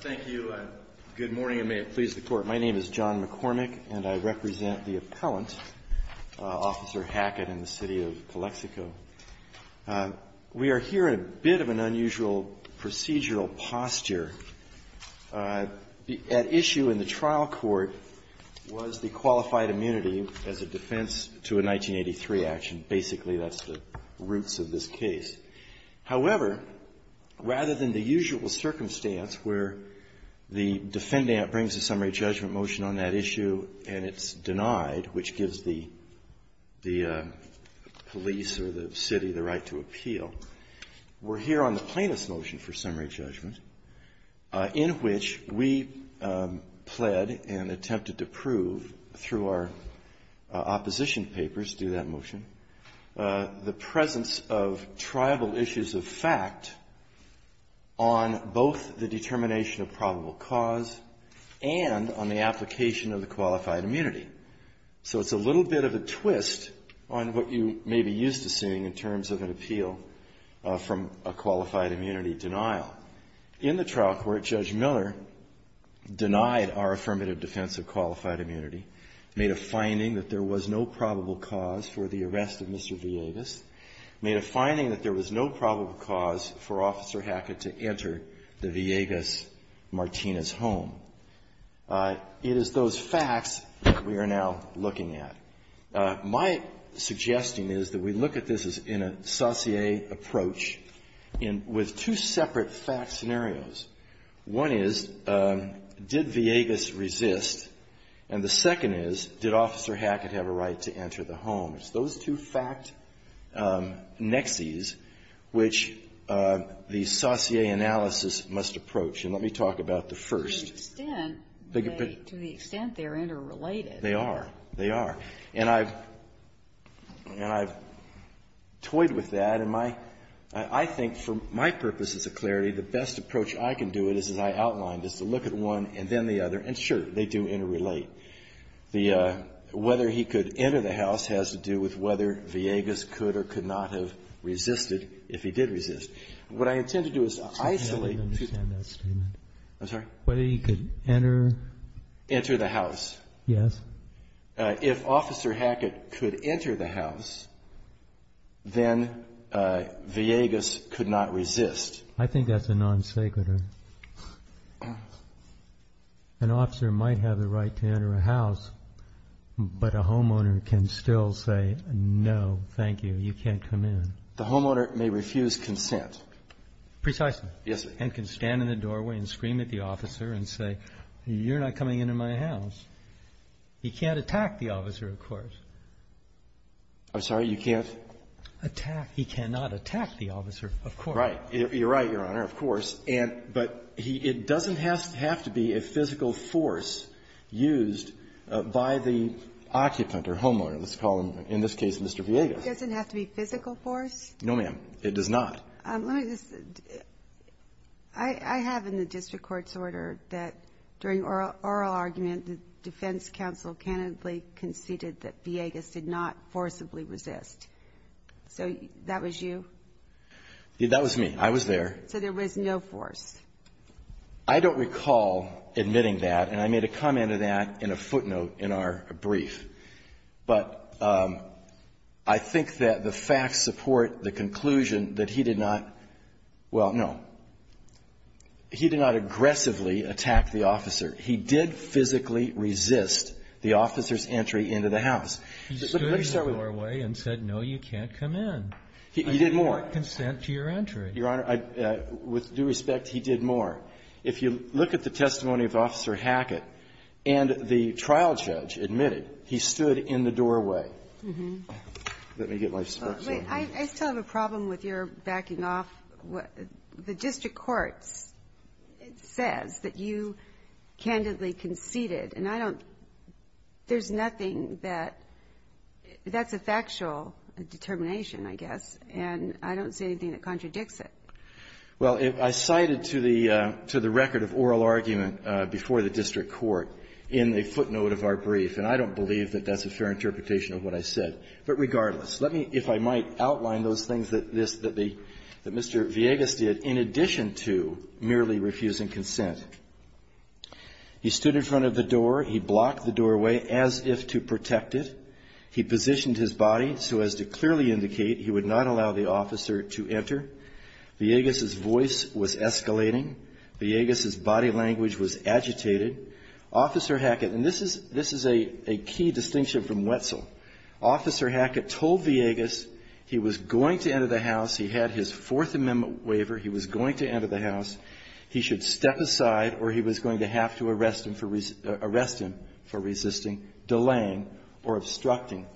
Thank you, and good morning, and may it please the Court. My name is John McCormick, and I represent the appellant, Officer Hackett, in the city of Calexico. We are here in a bit of an unusual procedural posture. At issue in the trial court was the qualified immunity as a defense to a 1983 action. Basically, that's the roots of this case. However, rather than the usual circumstance where the defendant brings a summary judgment motion on that issue, and it's denied, which gives the police or the city the right to appeal, we're here on the plaintiff's motion for summary judgment, in which we pled and attempted to prove, through our opposition papers, through that motion, the presence of tribal issues of fact on both the determination of probable cause and on the application of the qualified immunity. So it's a little bit of a twist on what you may be used to seeing in terms of an appeal from a qualified immunity denial. In the trial court, Judge Miller denied our affirmative defense of qualified immunity, made a finding that there was no probable cause for the arrest of Mr. Villegas, made a finding that there was no probable cause for Officer Hackett to enter the Villegas Martinez home. It is those facts that we are now looking at. My suggesting is that we look at this as in a sauté approach, and with two separate fact scenarios. One is, did Villegas resist? And the second is, did Officer Hackett have a right to enter the home? Those two fact nexuses, which the sauté analysis must approach. And let me talk about the first. To the extent they're interrelated. They are. They are. And I've toyed with that. And I think, for my purposes of clarity, the best approach I can do it, as I outlined, is to look at one and then the other. And sure, they do interrelate. The whether he could enter the house has to do with whether Villegas could or could not have resisted, if he did resist. What I intend to do is to isolate. I don't understand that statement. I'm sorry? Whether he could enter. Enter the house. Yes. If Officer Hackett could enter the house, then Villegas could not resist. I think that's a non-sacred. An officer might have the right to enter a house, but a homeowner can still say, no, thank you, you can't come in. The homeowner may refuse consent. Precisely. Yes. And can stand in the doorway and scream at the officer and say, you're not coming into my house. He can't attack the officer, of course. I'm sorry, you can't? Attack. He cannot attack the officer, of course. Right. You're right, Your Honor, of course. But it doesn't have to be a physical force used by the occupant or homeowner. Let's call him, in this case, Mr. Villegas. It doesn't have to be physical force? No, ma'am. It does not. Let me just say, I have in the district court's order that during oral argument, the defense counsel candidly conceded that Villegas did not forcibly resist. So that was you? That was me. I was there. So there was no force? I don't recall admitting that, and I made a comment to that in a footnote in our brief. But I think that the facts support the conclusion that he did not — well, no. He did not aggressively attack the officer. He did physically resist the officer's entry into the house. He stood in the doorway and said, no, you can't come in. He did more. I do not consent to your entry. Your Honor, I — with due respect, he did more. If you look at the testimony of Officer Hackett and the trial judge admitted he stood in the doorway. Let me get my spokesman. I still have a problem with your backing off. The district court says that you candidly conceded, and I don't — there's nothing that — that's a factual determination, I guess, and I don't see anything that contradicts that. Well, I cited to the record of oral argument before the district court in a footnote of our brief, and I don't believe that that's a fair interpretation of what I said. But regardless, let me, if I might, outline those things that Mr. Villegas did in addition to merely refusing consent. He stood in front of the door. He blocked the doorway as if to protect it. He positioned his body so as to clearly indicate he would not allow the officer to enter. Villegas's voice was escalating. Villegas's body language was agitated. Officer Hackett — and this is a key distinction from Wetzel. Officer Hackett told Villegas he was going to enter the house. He had his Fourth Amendment waiver. He was going to enter the house. He should step aside or he was going to have to arrest him for resisting, delaying or obstructing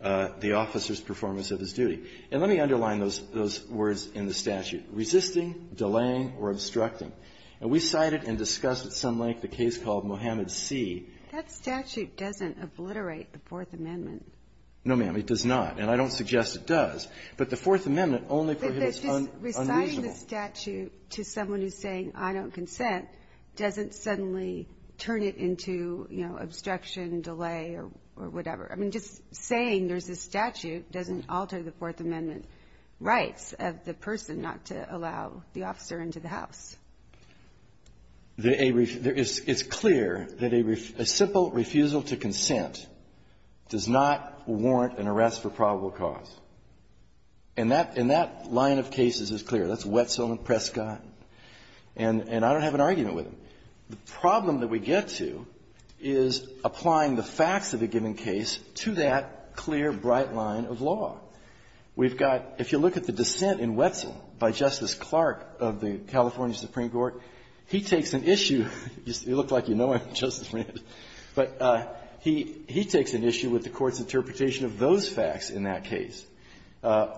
the officer's performance of his duty. And let me underline those words in the statute. Resisting, delaying or obstructing. And we cited and discussed at some length a case called Mohammed C. That statute doesn't obliterate the Fourth Amendment. No, ma'am. It does not. And I don't suggest it does. But the Fourth Amendment only prohibits unreasonable — But just reciting the statute to someone who's saying, I don't consent, doesn't suddenly turn it into, you know, obstruction, delay or whatever. I mean, just saying there's a statute doesn't alter the Fourth Amendment rights of the person not to allow the officer into the house. There is — it's clear that a simple refusal to consent does not warrant an arrest for probable cause. And that — and that line of cases is clear. That's Wetzel and Prescott. And I don't have an argument with them. The problem that we get to is applying the facts of a given case to that clear, bright line of law. We've got — if you look at the dissent in Wetzel by Justice Clark of the California Supreme Court, he takes an issue — you look like you know him, Justice Breyer — but he takes an issue with the Court's interpretation of those facts in that case.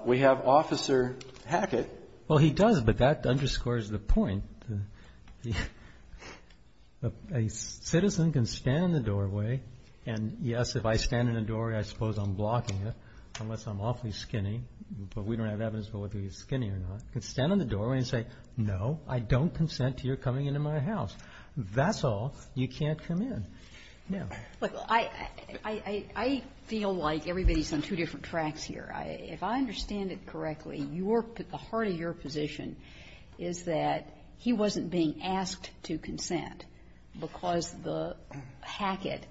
We have Officer Hackett. Well, he does, but that underscores the point. A citizen can stand in the doorway and, yes, if I stand in the doorway, I suppose I'm blocking it, unless I'm awfully skinny, but we don't have evidence of whether he's skinny or not. He can stand in the doorway and say, no, I don't consent to your coming into my house. That's all. You can't come in. Now — Well, I — I feel like everybody's on two different tracks here. If I understand it correctly, your — the heart of your position is that he wasn't being asked to consent because the Hackett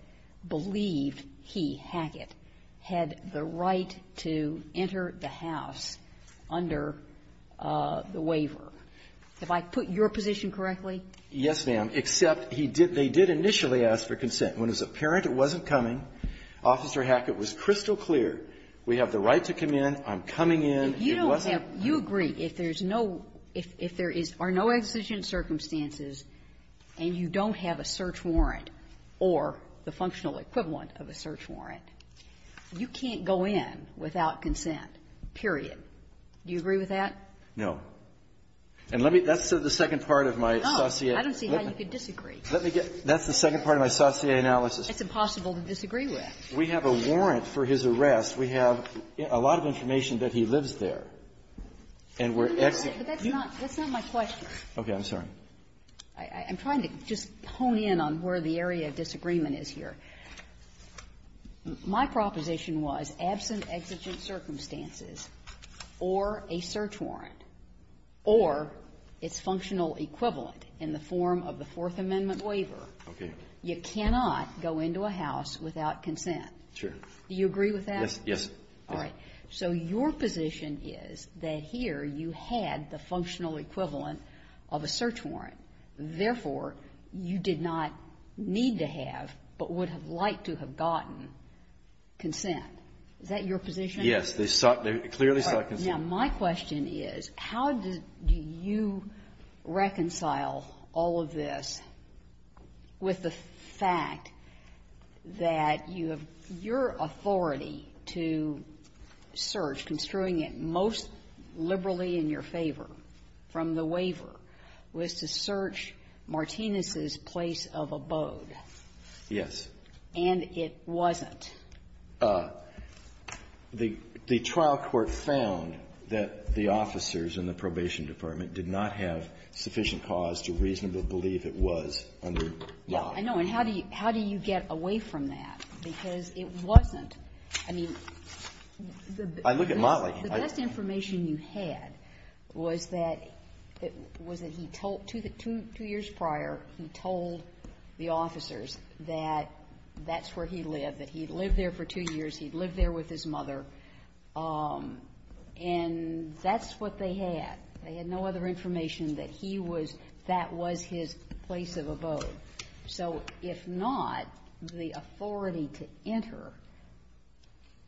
believed he, Hackett, had the right to enter the house under the waiver. Have I put your position correctly? Yes, ma'am, except he did — they did initially ask for consent. When it was apparent it wasn't coming, Officer Hackett was crystal clear, we have the right to come in, I'm coming in, it wasn't — If you don't have — you agree if there's no — if there is — are no exigent circumstances and you don't have a search warrant or the functional equivalent of a search warrant, you can't go in without consent, period. Do you agree with that? No. And let me — that's the second part of my saut�e. Oh, I don't see how you could disagree. Let me get — that's the second part of my saut�e analysis. It's impossible to disagree with. We have a warrant for his arrest. We have a lot of information that he lives there. And we're — But that's not — that's not my question. Okay. I'm sorry. I'm trying to just hone in on where the area of disagreement is here. My proposition was, absent exigent circumstances or a search warrant or its functional equivalent in the form of the Fourth Amendment waiver, you cannot go into a house without consent. Sure. Do you agree with that? Yes. Yes. All right. So your position is that here you had the functional equivalent of a search warrant. Therefore, you did not need to have, but would have liked to have gotten, consent. Is that your position? Yes. They clearly sought consent. Now, my question is, how do you reconcile all of this with the fact that you have your authority to search, construing it most liberally in your favor from the waiver, was to search Martinez's place of abode? Yes. And it wasn't? The trial court found that the officers in the probation department did not have sufficient cause to reasonably believe it was under law. I know. And how do you get away from that? Because it wasn't. I mean, the best information you had was that he told, two years prior, he told the officers that that's where he lived, that he lived there for two years, he lived there with his mother, and that's what they had. They had no other information that he was, that was his place of abode. So if not, the authority to enter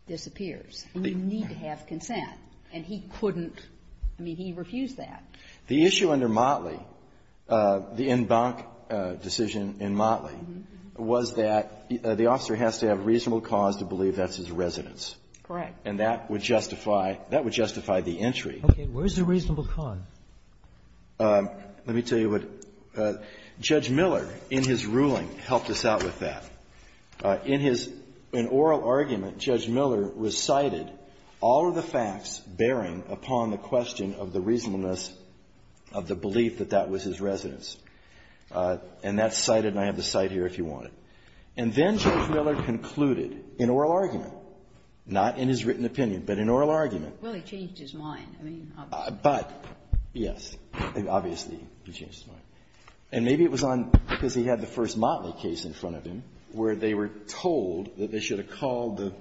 disappears. And you need to have consent. And he couldn't. I mean, he refused that. The issue under Motley, the en banc decision in Motley, was that the officer has to have reasonable cause to believe that's his residence. Correct. And that would justify, that would justify the entry. Okay. Where's the reasonable cause? Let me tell you what Judge Miller, in his ruling, helped us out with that. In his, in oral argument, Judge Miller recited all of the facts bearing upon the question of the reasonableness of the belief that that was his residence. And that's cited, and I have the cite here if you want it. And then Judge Miller concluded, in oral argument, not in his written opinion, but in oral argument. Well, he changed his mind. I mean, obviously. But, yes, obviously, he changed his mind. And maybe it was on, because he had the first Motley case in front of him, where they were told that they should have called the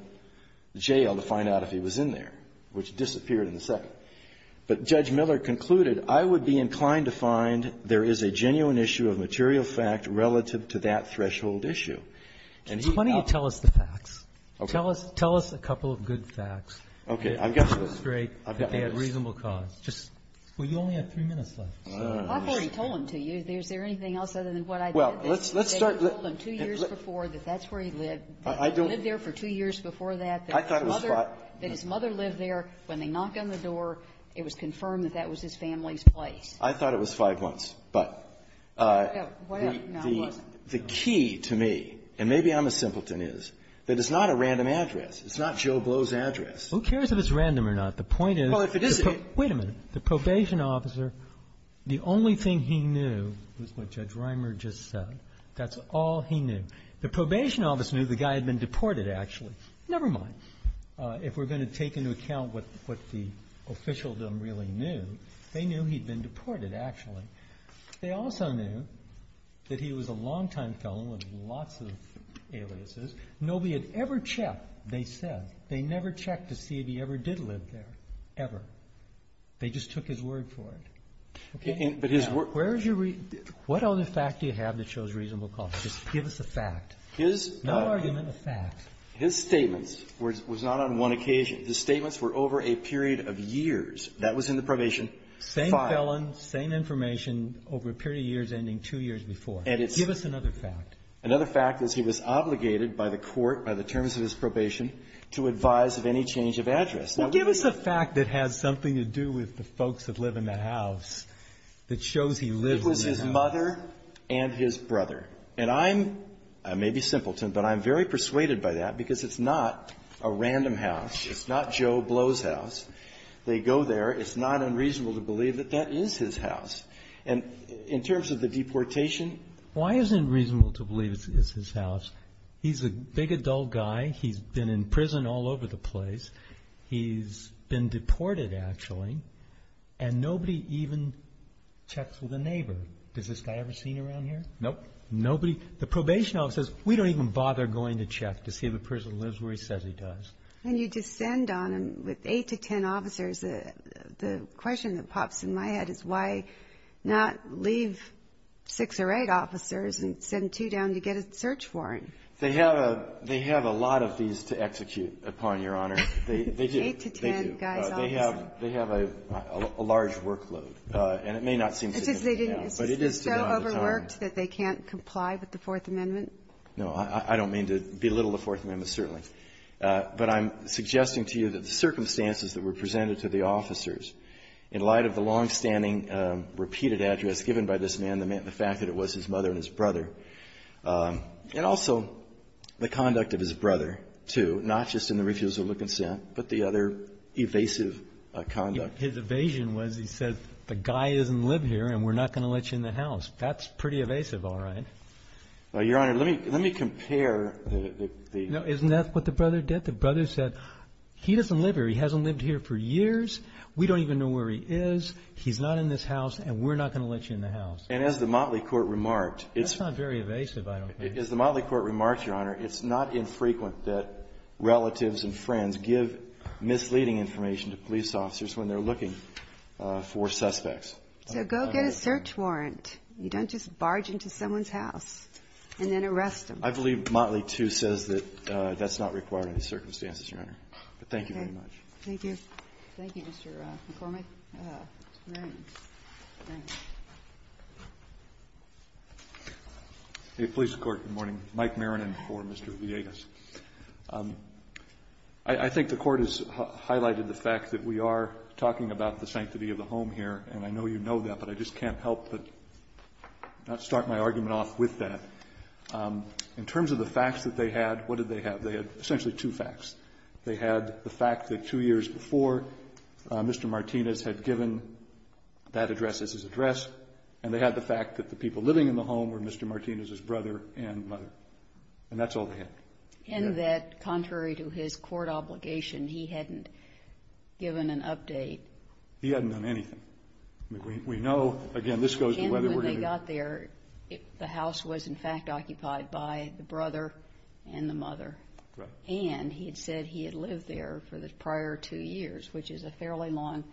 jail to find out if he was in there, which disappeared in the second. But Judge Miller concluded, I would be inclined to find there is a genuine issue of material fact relative to that threshold issue. And he found that. Why don't you tell us the facts? Okay. Tell us, tell us a couple of good facts. Okay. I've got this. Just to illustrate that they had reasonable cause. Just, well, you only have three minutes left. I've already told him to you. Is there anything else other than what I've said? Well, let's start. They told him two years before that that's where he lived. I don't know. He lived there for two years before that. I thought it was five. That his mother lived there. When they knocked on the door, it was confirmed that that was his family's place. I thought it was five months. But the key to me, and maybe I'm as simpleton as, that it's not a random address. It's not Joe Blow's address. Who cares if it's random or not? The point is, wait a minute. The probation officer, the only thing he knew was what Judge Reimer just said. That's all he knew. The probation officer knew the guy had been deported, actually. Never mind. If we're going to take into account what the officialdom really knew, they knew he'd been deported, actually. They also knew that he was a longtime felon with lots of aliases. Nobody had ever checked, they said. They never checked to see if he ever did live there, ever. They just took his word for it. Okay? Now, where is your reason? What other fact do you have that shows reasonable cause? Just give us a fact. No argument, a fact. His statements was not on one occasion. His statements were over a period of years. That was in the probation. Same felon, same information, over a period of years ending two years before. Give us another fact. Another fact is he was obligated by the court, by the terms of his probation, to advise of any change of address. Now, give us a fact that has something to do with the folks that live in the house, that shows he lived in the house. It was his mother and his brother. And I'm, I may be simpleton, but I'm very persuaded by that because it's not a random house, it's not Joe Blow's house. They go there, it's not unreasonable to believe that that is his house. And in terms of the deportation. Why is it unreasonable to believe it's his house? He's a big adult guy. He's been in prison all over the place. He's been deported, actually. And nobody even checks with a neighbor. Does this guy ever seen around here? Nope, nobody. The probation officer says, we don't even bother going to check to see if a person lives where he says he does. And you descend on him with eight to ten officers. The question that pops in my head is why not leave six or eight officers and send two down to get a search warrant? They have a lot of these to execute upon, Your Honor. Eight to ten guys. They have a large workload. And it may not seem significant now, but it is to do with the time. Is this job overworked that they can't comply with the Fourth Amendment? No, I don't mean to belittle the Fourth Amendment, certainly. In light of the long-standing repeated address given by this man, the fact that it was his mother and his brother. And also the conduct of his brother, too, not just in the refusal to consent, but the other evasive conduct. His evasion was, he said, the guy doesn't live here and we're not going to let you in the house. That's pretty evasive, all right. Well, Your Honor, let me compare the... No, isn't that what the brother did? The brother said, he doesn't live here. He hasn't lived here for years. We don't even know where he is. He's not in this house and we're not going to let you in the house. And as the Motley Court remarked, it's... That's not very evasive, I don't think. As the Motley Court remarked, Your Honor, it's not infrequent that relatives and friends give misleading information to police officers when they're looking for suspects. So go get a search warrant. You don't just barge into someone's house and then arrest them. I believe Motley, too, says that that's not required under these circumstances, Your Honor. But thank you very much. Thank you. Thank you, Mr. McCormick. Mr. Maranin. Maranin. Hey, police court, good morning. Mike Maranin for Mr. Villegas. I think the Court has highlighted the fact that we are talking about the sanctity of the home here, and I know you know that, but I just can't help but not start my argument off with that. In terms of the facts that they had, what did they have? They had essentially two facts. They had the fact that two years before, Mr. Martinez had given that address as his address, and they had the fact that the people living in the home were Mr. Martinez's brother and mother. And that's all they had. And that, contrary to his court obligation, he hadn't given an update. He hadn't done anything. We know, again, this goes to whether we're going to do anything. And when they got there, the house was, in fact, occupied by the brother and the mother. Right. And he had said he had lived there for the prior two years, which is a fairly long,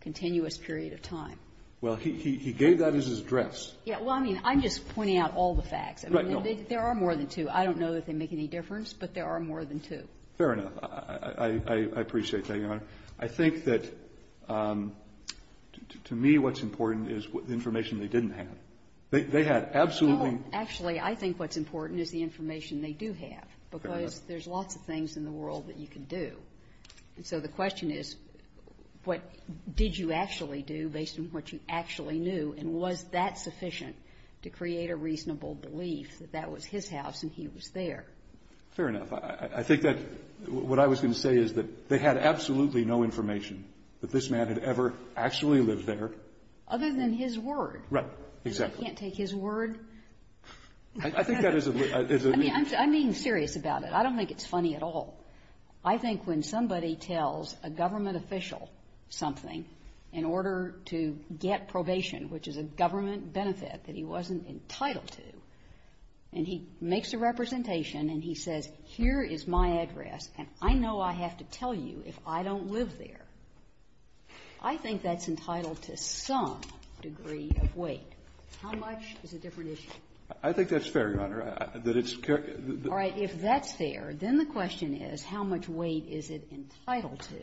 continuous period of time. Well, he gave that as his address. Yeah. Well, I mean, I'm just pointing out all the facts. Right. There are more than two. I don't know that they make any difference, but there are more than two. Fair enough. I appreciate that, Your Honor. I think that, to me, what's important is the information they didn't have. They had absolutely not. And so the question is, what did you actually do based on what you actually knew? And was that sufficient to create a reasonable belief that that was his house and he was there? Fair enough. I think that what I was going to say is that they had absolutely no information that this man had ever actually lived there. Other than his word. Right. Exactly. Because they can't take his word. I think that is a little bit of a... I mean, I'm being serious about it. I don't think it's funny at all. I think when somebody tells a government official something in order to get probation, which is a government benefit that he wasn't entitled to, and he makes a representation and he says, here is my address and I know I have to tell you if I don't live there, I think that's entitled to some degree of weight. How much is a different issue? I think that's fair, Your Honor, that it's... All right. If that's fair, then the question is how much weight is it entitled to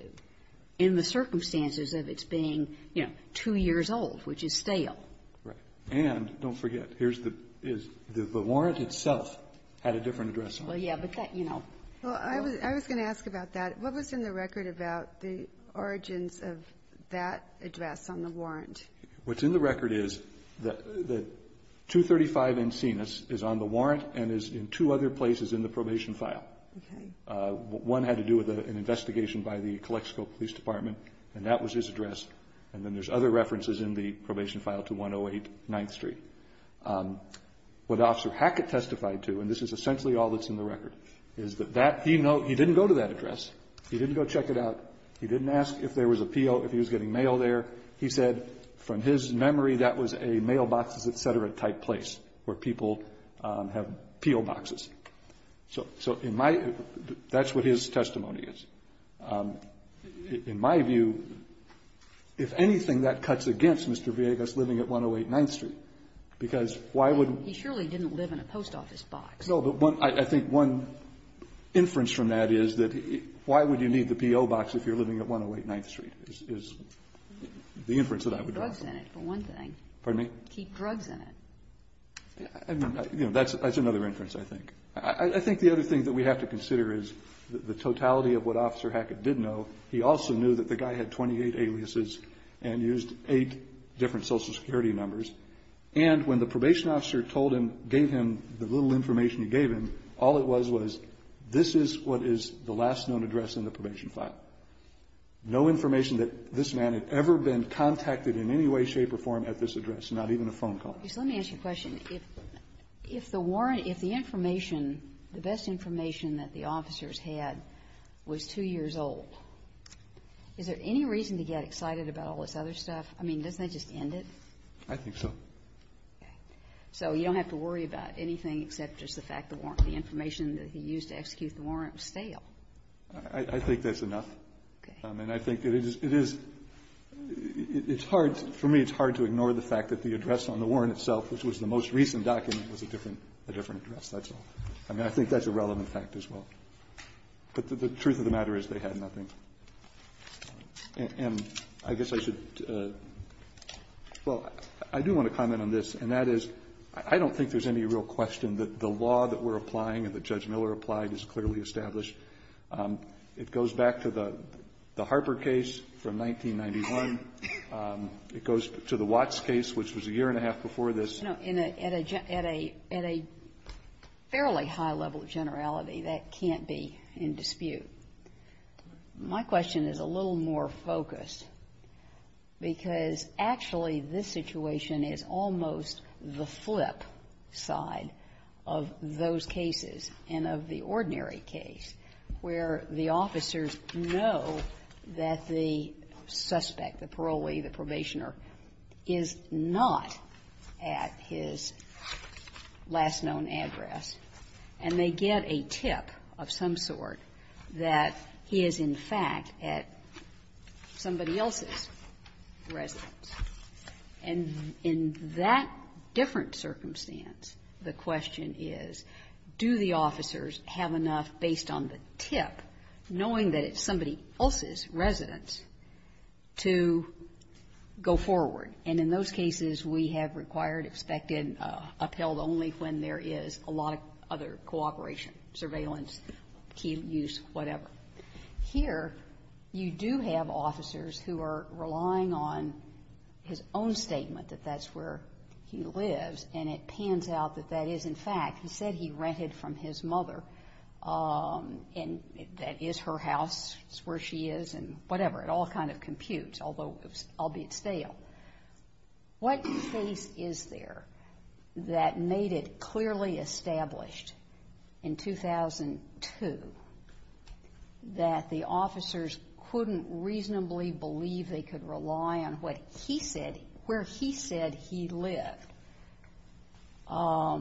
in the circumstances of its being, you know, two years old, which is stale. Right. And don't forget, here is the warrant itself had a different address on it. Well, yeah, but that, you know... Well, I was going to ask about that. What was in the record about the origins of that address on the warrant? What's in the record is that 235 Encinas is on the warrant and is in two other places in the probation file. Okay. One had to do with an investigation by the Calexico Police Department, and that was his address, and then there's other references in the probation file to 108 9th Street. What Officer Hackett testified to, and this is essentially all that's in the record, is that he didn't go to that address. He didn't go check it out. He didn't ask if there was a PO, if he was getting mail there. He said from his memory that was a mailboxes, et cetera, type place where people have PO boxes. So in my ---- that's what his testimony is. In my view, if anything, that cuts against Mr. Villegas living at 108 9th Street, because why would... He surely didn't live in a post office box. No, but one ---- I think one inference from that is that why would you need the PO box if you're living at 108 9th Street is the inference that I would draw. Keep drugs in it, for one thing. Pardon me? Keep drugs in it. That's another inference, I think. I think the other thing that we have to consider is the totality of what Officer Hackett did know. He also knew that the guy had 28 aliases and used eight different Social Security numbers, and when the probation officer told him, gave him the little information file, no information that this man had ever been contacted in any way, shape or form at this address, not even a phone call. Let me ask you a question. If the warrant ---- if the information, the best information that the officers had was two years old, is there any reason to get excited about all this other stuff? I mean, doesn't that just end it? I think so. Okay. So you don't have to worry about anything except just the fact the information that he used to execute the warrant was stale. I think that's enough. Okay. And I think it is ---- it's hard, for me, it's hard to ignore the fact that the address on the warrant itself, which was the most recent document, was a different address. That's all. I mean, I think that's a relevant fact as well. But the truth of the matter is they had nothing. And I guess I should ---- well, I do want to comment on this, and that is, I don't think there's any real question that the law that we're applying and that Judge Miller applied is clearly established. It goes back to the Harper case from 1991. It goes to the Watts case, which was a year and a half before this. No. At a fairly high level of generality, that can't be in dispute. My question is a little more focused, because actually this situation is almost the flip side of those cases and of the ordinary case, where the officers know that the suspect, the parolee, the probationer, is not at his last known address, and they get a tip of some sort that he is, in fact, at somebody else's residence. And in that different circumstance, the question is, do the officers have enough based on the tip, knowing that it's somebody else's residence, to go forward? And in those cases, we have required, expected, upheld only when there is a lot of other cooperation, surveillance, key use, whatever. Here, you do have officers who are relying on his own statement that that's where he lives, and it pans out that that is, in fact, he said he rented from his mother, and that is her house, it's where she is, and whatever. It all kind of computes, although albeit stale. What case is there that made it clearly established in 2002 that the officers couldn't reasonably believe they could rely on what he said, where he said he lived? I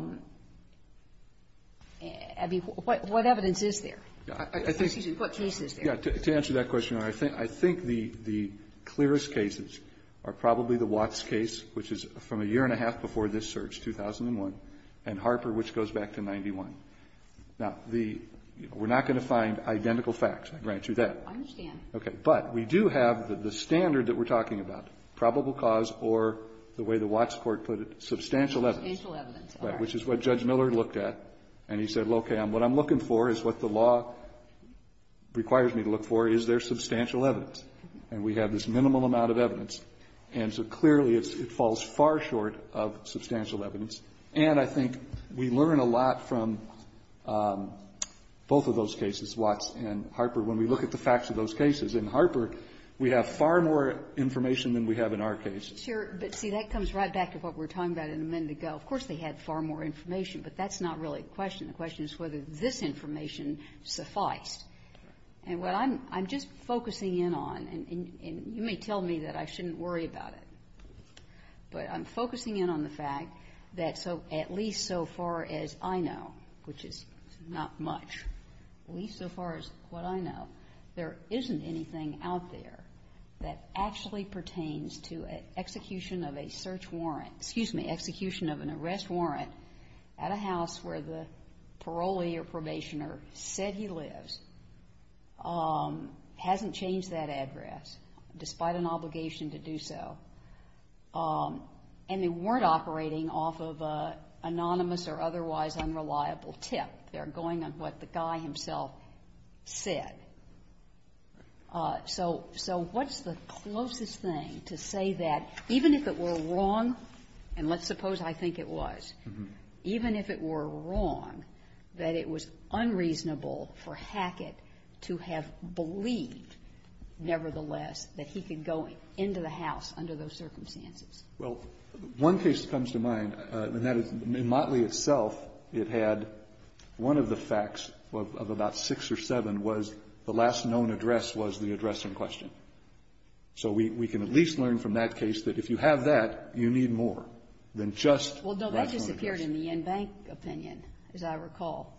mean, what evidence is there? Excuse me, what case is there? To answer that question, Your Honor, I think the clearest cases are probably the Watts case, which is from a year and a half before this search, 2001, and Harper, which goes back to 91. Now, the we're not going to find identical facts, I grant you that. I understand. Okay. But we do have the standard that we're talking about, probable cause or, the way the Watts court put it, substantial evidence. Substantial evidence. Which is what Judge Miller looked at, and he said, okay, what I'm looking for is what the law requires me to look for. Is there substantial evidence? And we have this minimal amount of evidence. And so clearly it falls far short of substantial evidence. And I think we learn a lot from both of those cases, Watts and Harper, when we look at the facts of those cases. In Harper, we have far more information than we have in our case. Sure. But, see, that comes right back to what we were talking about a minute ago. Of course they had far more information, but that's not really the question. The question is whether this information sufficed. And what I'm just focusing in on, and you may tell me that I shouldn't worry about it, but I'm focusing in on the fact that at least so far as I know, which is not much, at least so far as what I know, there isn't anything out there that actually pertains to an execution of a search warrant, excuse me, execution of an arrest warrant at a house where the parolee or probationer said he lives, hasn't changed that address, despite an obligation to do so, and they weren't operating off of an anonymous or otherwise unreliable tip. They're going on what the guy himself said. So what's the closest thing to say that, even if it were wrong, and let's suppose I think it was, even if it were wrong, that it was unreasonable for Hackett to have believed, nevertheless, that he could go into the house under those circumstances? Well, one case that comes to mind, and that is in Motley itself, it had one of the facts of about six or seven was the last known address was the address in question. So we can at least learn from that case that if you have that, you need more than just the last known address. Well, no, that disappeared in the in-bank opinion, as I recall.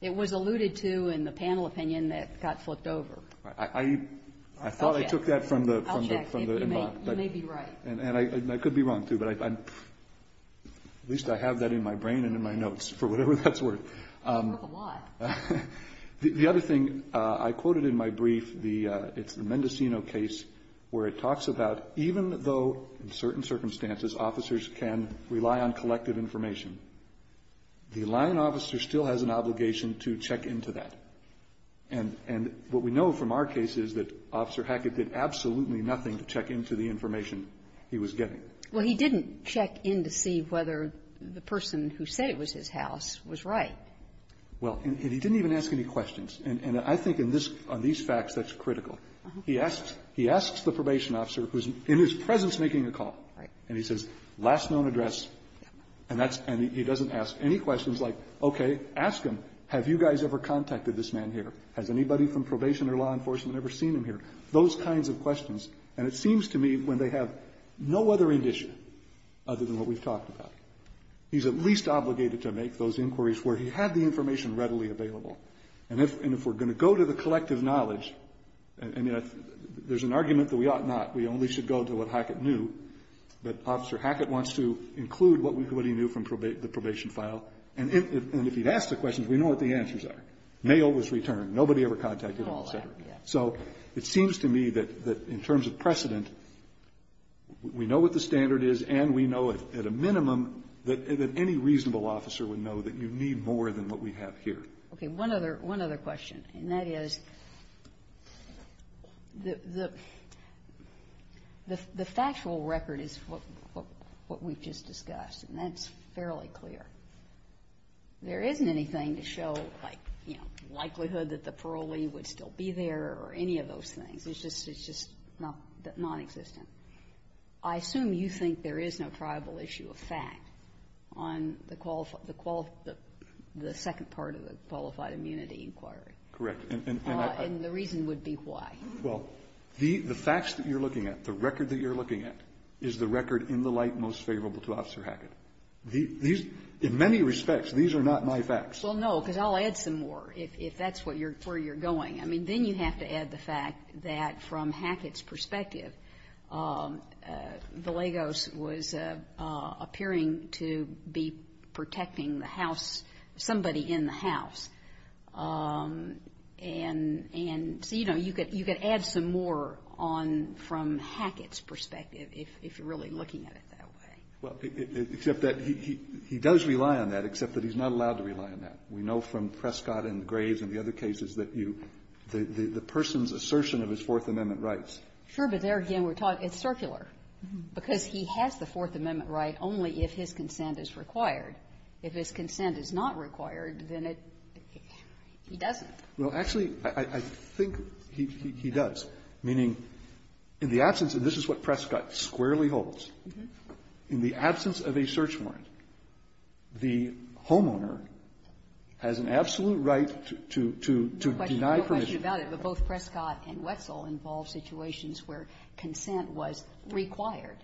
It was alluded to in the panel opinion that got flipped over. I thought I took that from the inbox. I'll check. You may be right. And I could be wrong, too, but at least I have that in my brain and in my notes, for whatever that's worth. That's worth a lot. The other thing I quoted in my brief, the Mendocino case, where it talks about even though in certain circumstances officers can rely on collective information, the line officer still has an obligation to check into that. And what we know from our case is that Officer Hackett did absolutely nothing to check into the information he was getting. Well, he didn't check in to see whether the person who said it was his house was right. Well, and he didn't even ask any questions. And I think on these facts that's critical. He asks the probation officer who's in his presence making a call. And he says, last known address. And he doesn't ask any questions like, okay, ask him, have you guys ever contacted this man here? Has anybody from probation or law enforcement ever seen him here? Those kinds of questions. And it seems to me when they have no other indicia other than what we've talked about, he's at least obligated to make those inquiries where he had the information readily available. And if we're going to go to the collective knowledge, there's an argument that we ought not. We only should go to what Hackett knew. But Officer Hackett wants to include what he knew from the probation file. And if he'd asked the questions, we know what the answers are. Mail was returned. Nobody ever contacted him, et cetera. So it seems to me that in terms of precedent, we know what the standard is and we need more than what we have here. Okay. One other question. And that is, the factual record is what we've just discussed. And that's fairly clear. There isn't anything to show, like, you know, likelihood that the parolee would still be there or any of those things. It's just nonexistent. I assume you think there is no probable issue of fact on the second part of the qualified immunity inquiry. Correct. And the reason would be why. Well, the facts that you're looking at, the record that you're looking at, is the record in the light most favorable to Officer Hackett. In many respects, these are not my facts. Well, no, because I'll add some more if that's where you're going. I mean, then you have to add the fact that from Hackett's perspective, Villegos was appearing to be protecting the house, somebody in the house. And so, you know, you could add some more on from Hackett's perspective, if you're really looking at it that way. Well, except that he does rely on that, except that he's not allowed to rely on that. We know from Prescott and Graves and the other cases that you, the person's assertion of his Fourth Amendment rights. Sure, but there again, we're taught it's circular, because he has the Fourth Amendment right only if his consent is required. If his consent is not required, then it, he doesn't. Well, actually, I think he does, meaning in the absence, and this is what Prescott squarely holds, in the absence of a search warrant, the homeowner has an absolute right to deny permission. No question about it, but both Prescott and Wetzel involve situations where consent was required.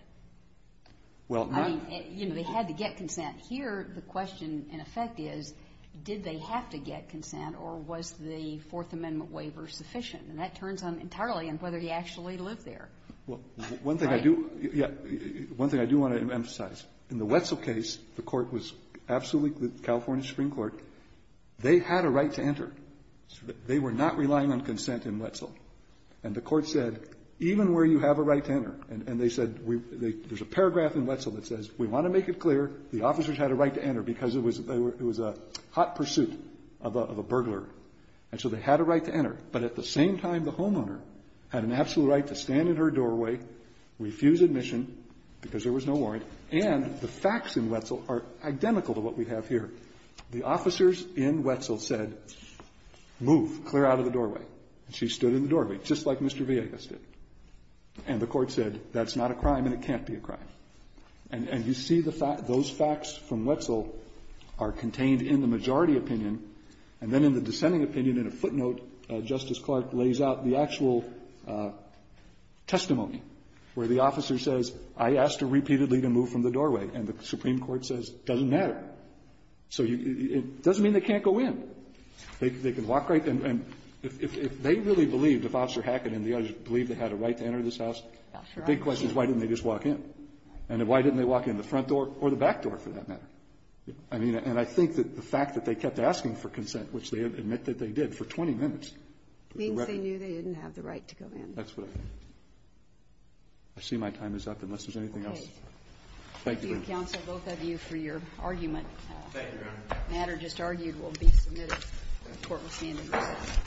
Well, I mean, you know, they had to get consent. Here, the question, in effect, is did they have to get consent, or was the Fourth Amendment waiver sufficient? And that turns on entirely on whether he actually lived there. Well, one thing I do, yeah, one thing I do want to emphasize. In the Wetzel case, the Court was absolutely, the California Supreme Court, they had a right to enter. They were not relying on consent in Wetzel. And the Court said, even where you have a right to enter, and they said, there's a paragraph in Wetzel that says, we want to make it clear, the officers had a right to enter, because it was a hot pursuit of a burglar. And so they had a right to enter, but at the same time, the homeowner had an absolute right to stand in her doorway, refuse admission, because there was no warrant, and the facts in Wetzel are identical to what we have here. The officers in Wetzel said, move, clear out of the doorway. And she stood in the doorway, just like Mr. Villegas did. And the Court said, that's not a crime and it can't be a crime. And you see the fact, those facts from Wetzel are contained in the majority opinion. And then in the dissenting opinion, in a footnote, Justice Clark lays out the actual testimony, where the officer says, I asked her repeatedly to move from the doorway. And the Supreme Court says, it doesn't matter. So it doesn't mean they can't go in. They can walk right in. And if they really believed, if Officer Hackett and the others believed they had a right to enter this house, the big question is, why didn't they just walk in? And why didn't they walk in the front door or the back door, for that matter? I mean, and I think that the fact that they kept asking for consent, which they admit that they did, for 20 minutes. Ginsburg. Because they knew they didn't have the right to go in. That's what I think. I see my time is up, unless there's anything else. Thank you. Thank you, counsel, both of you, for your argument. Thank you, Your Honor. The matter just argued will be submitted. The Court will stand in recess.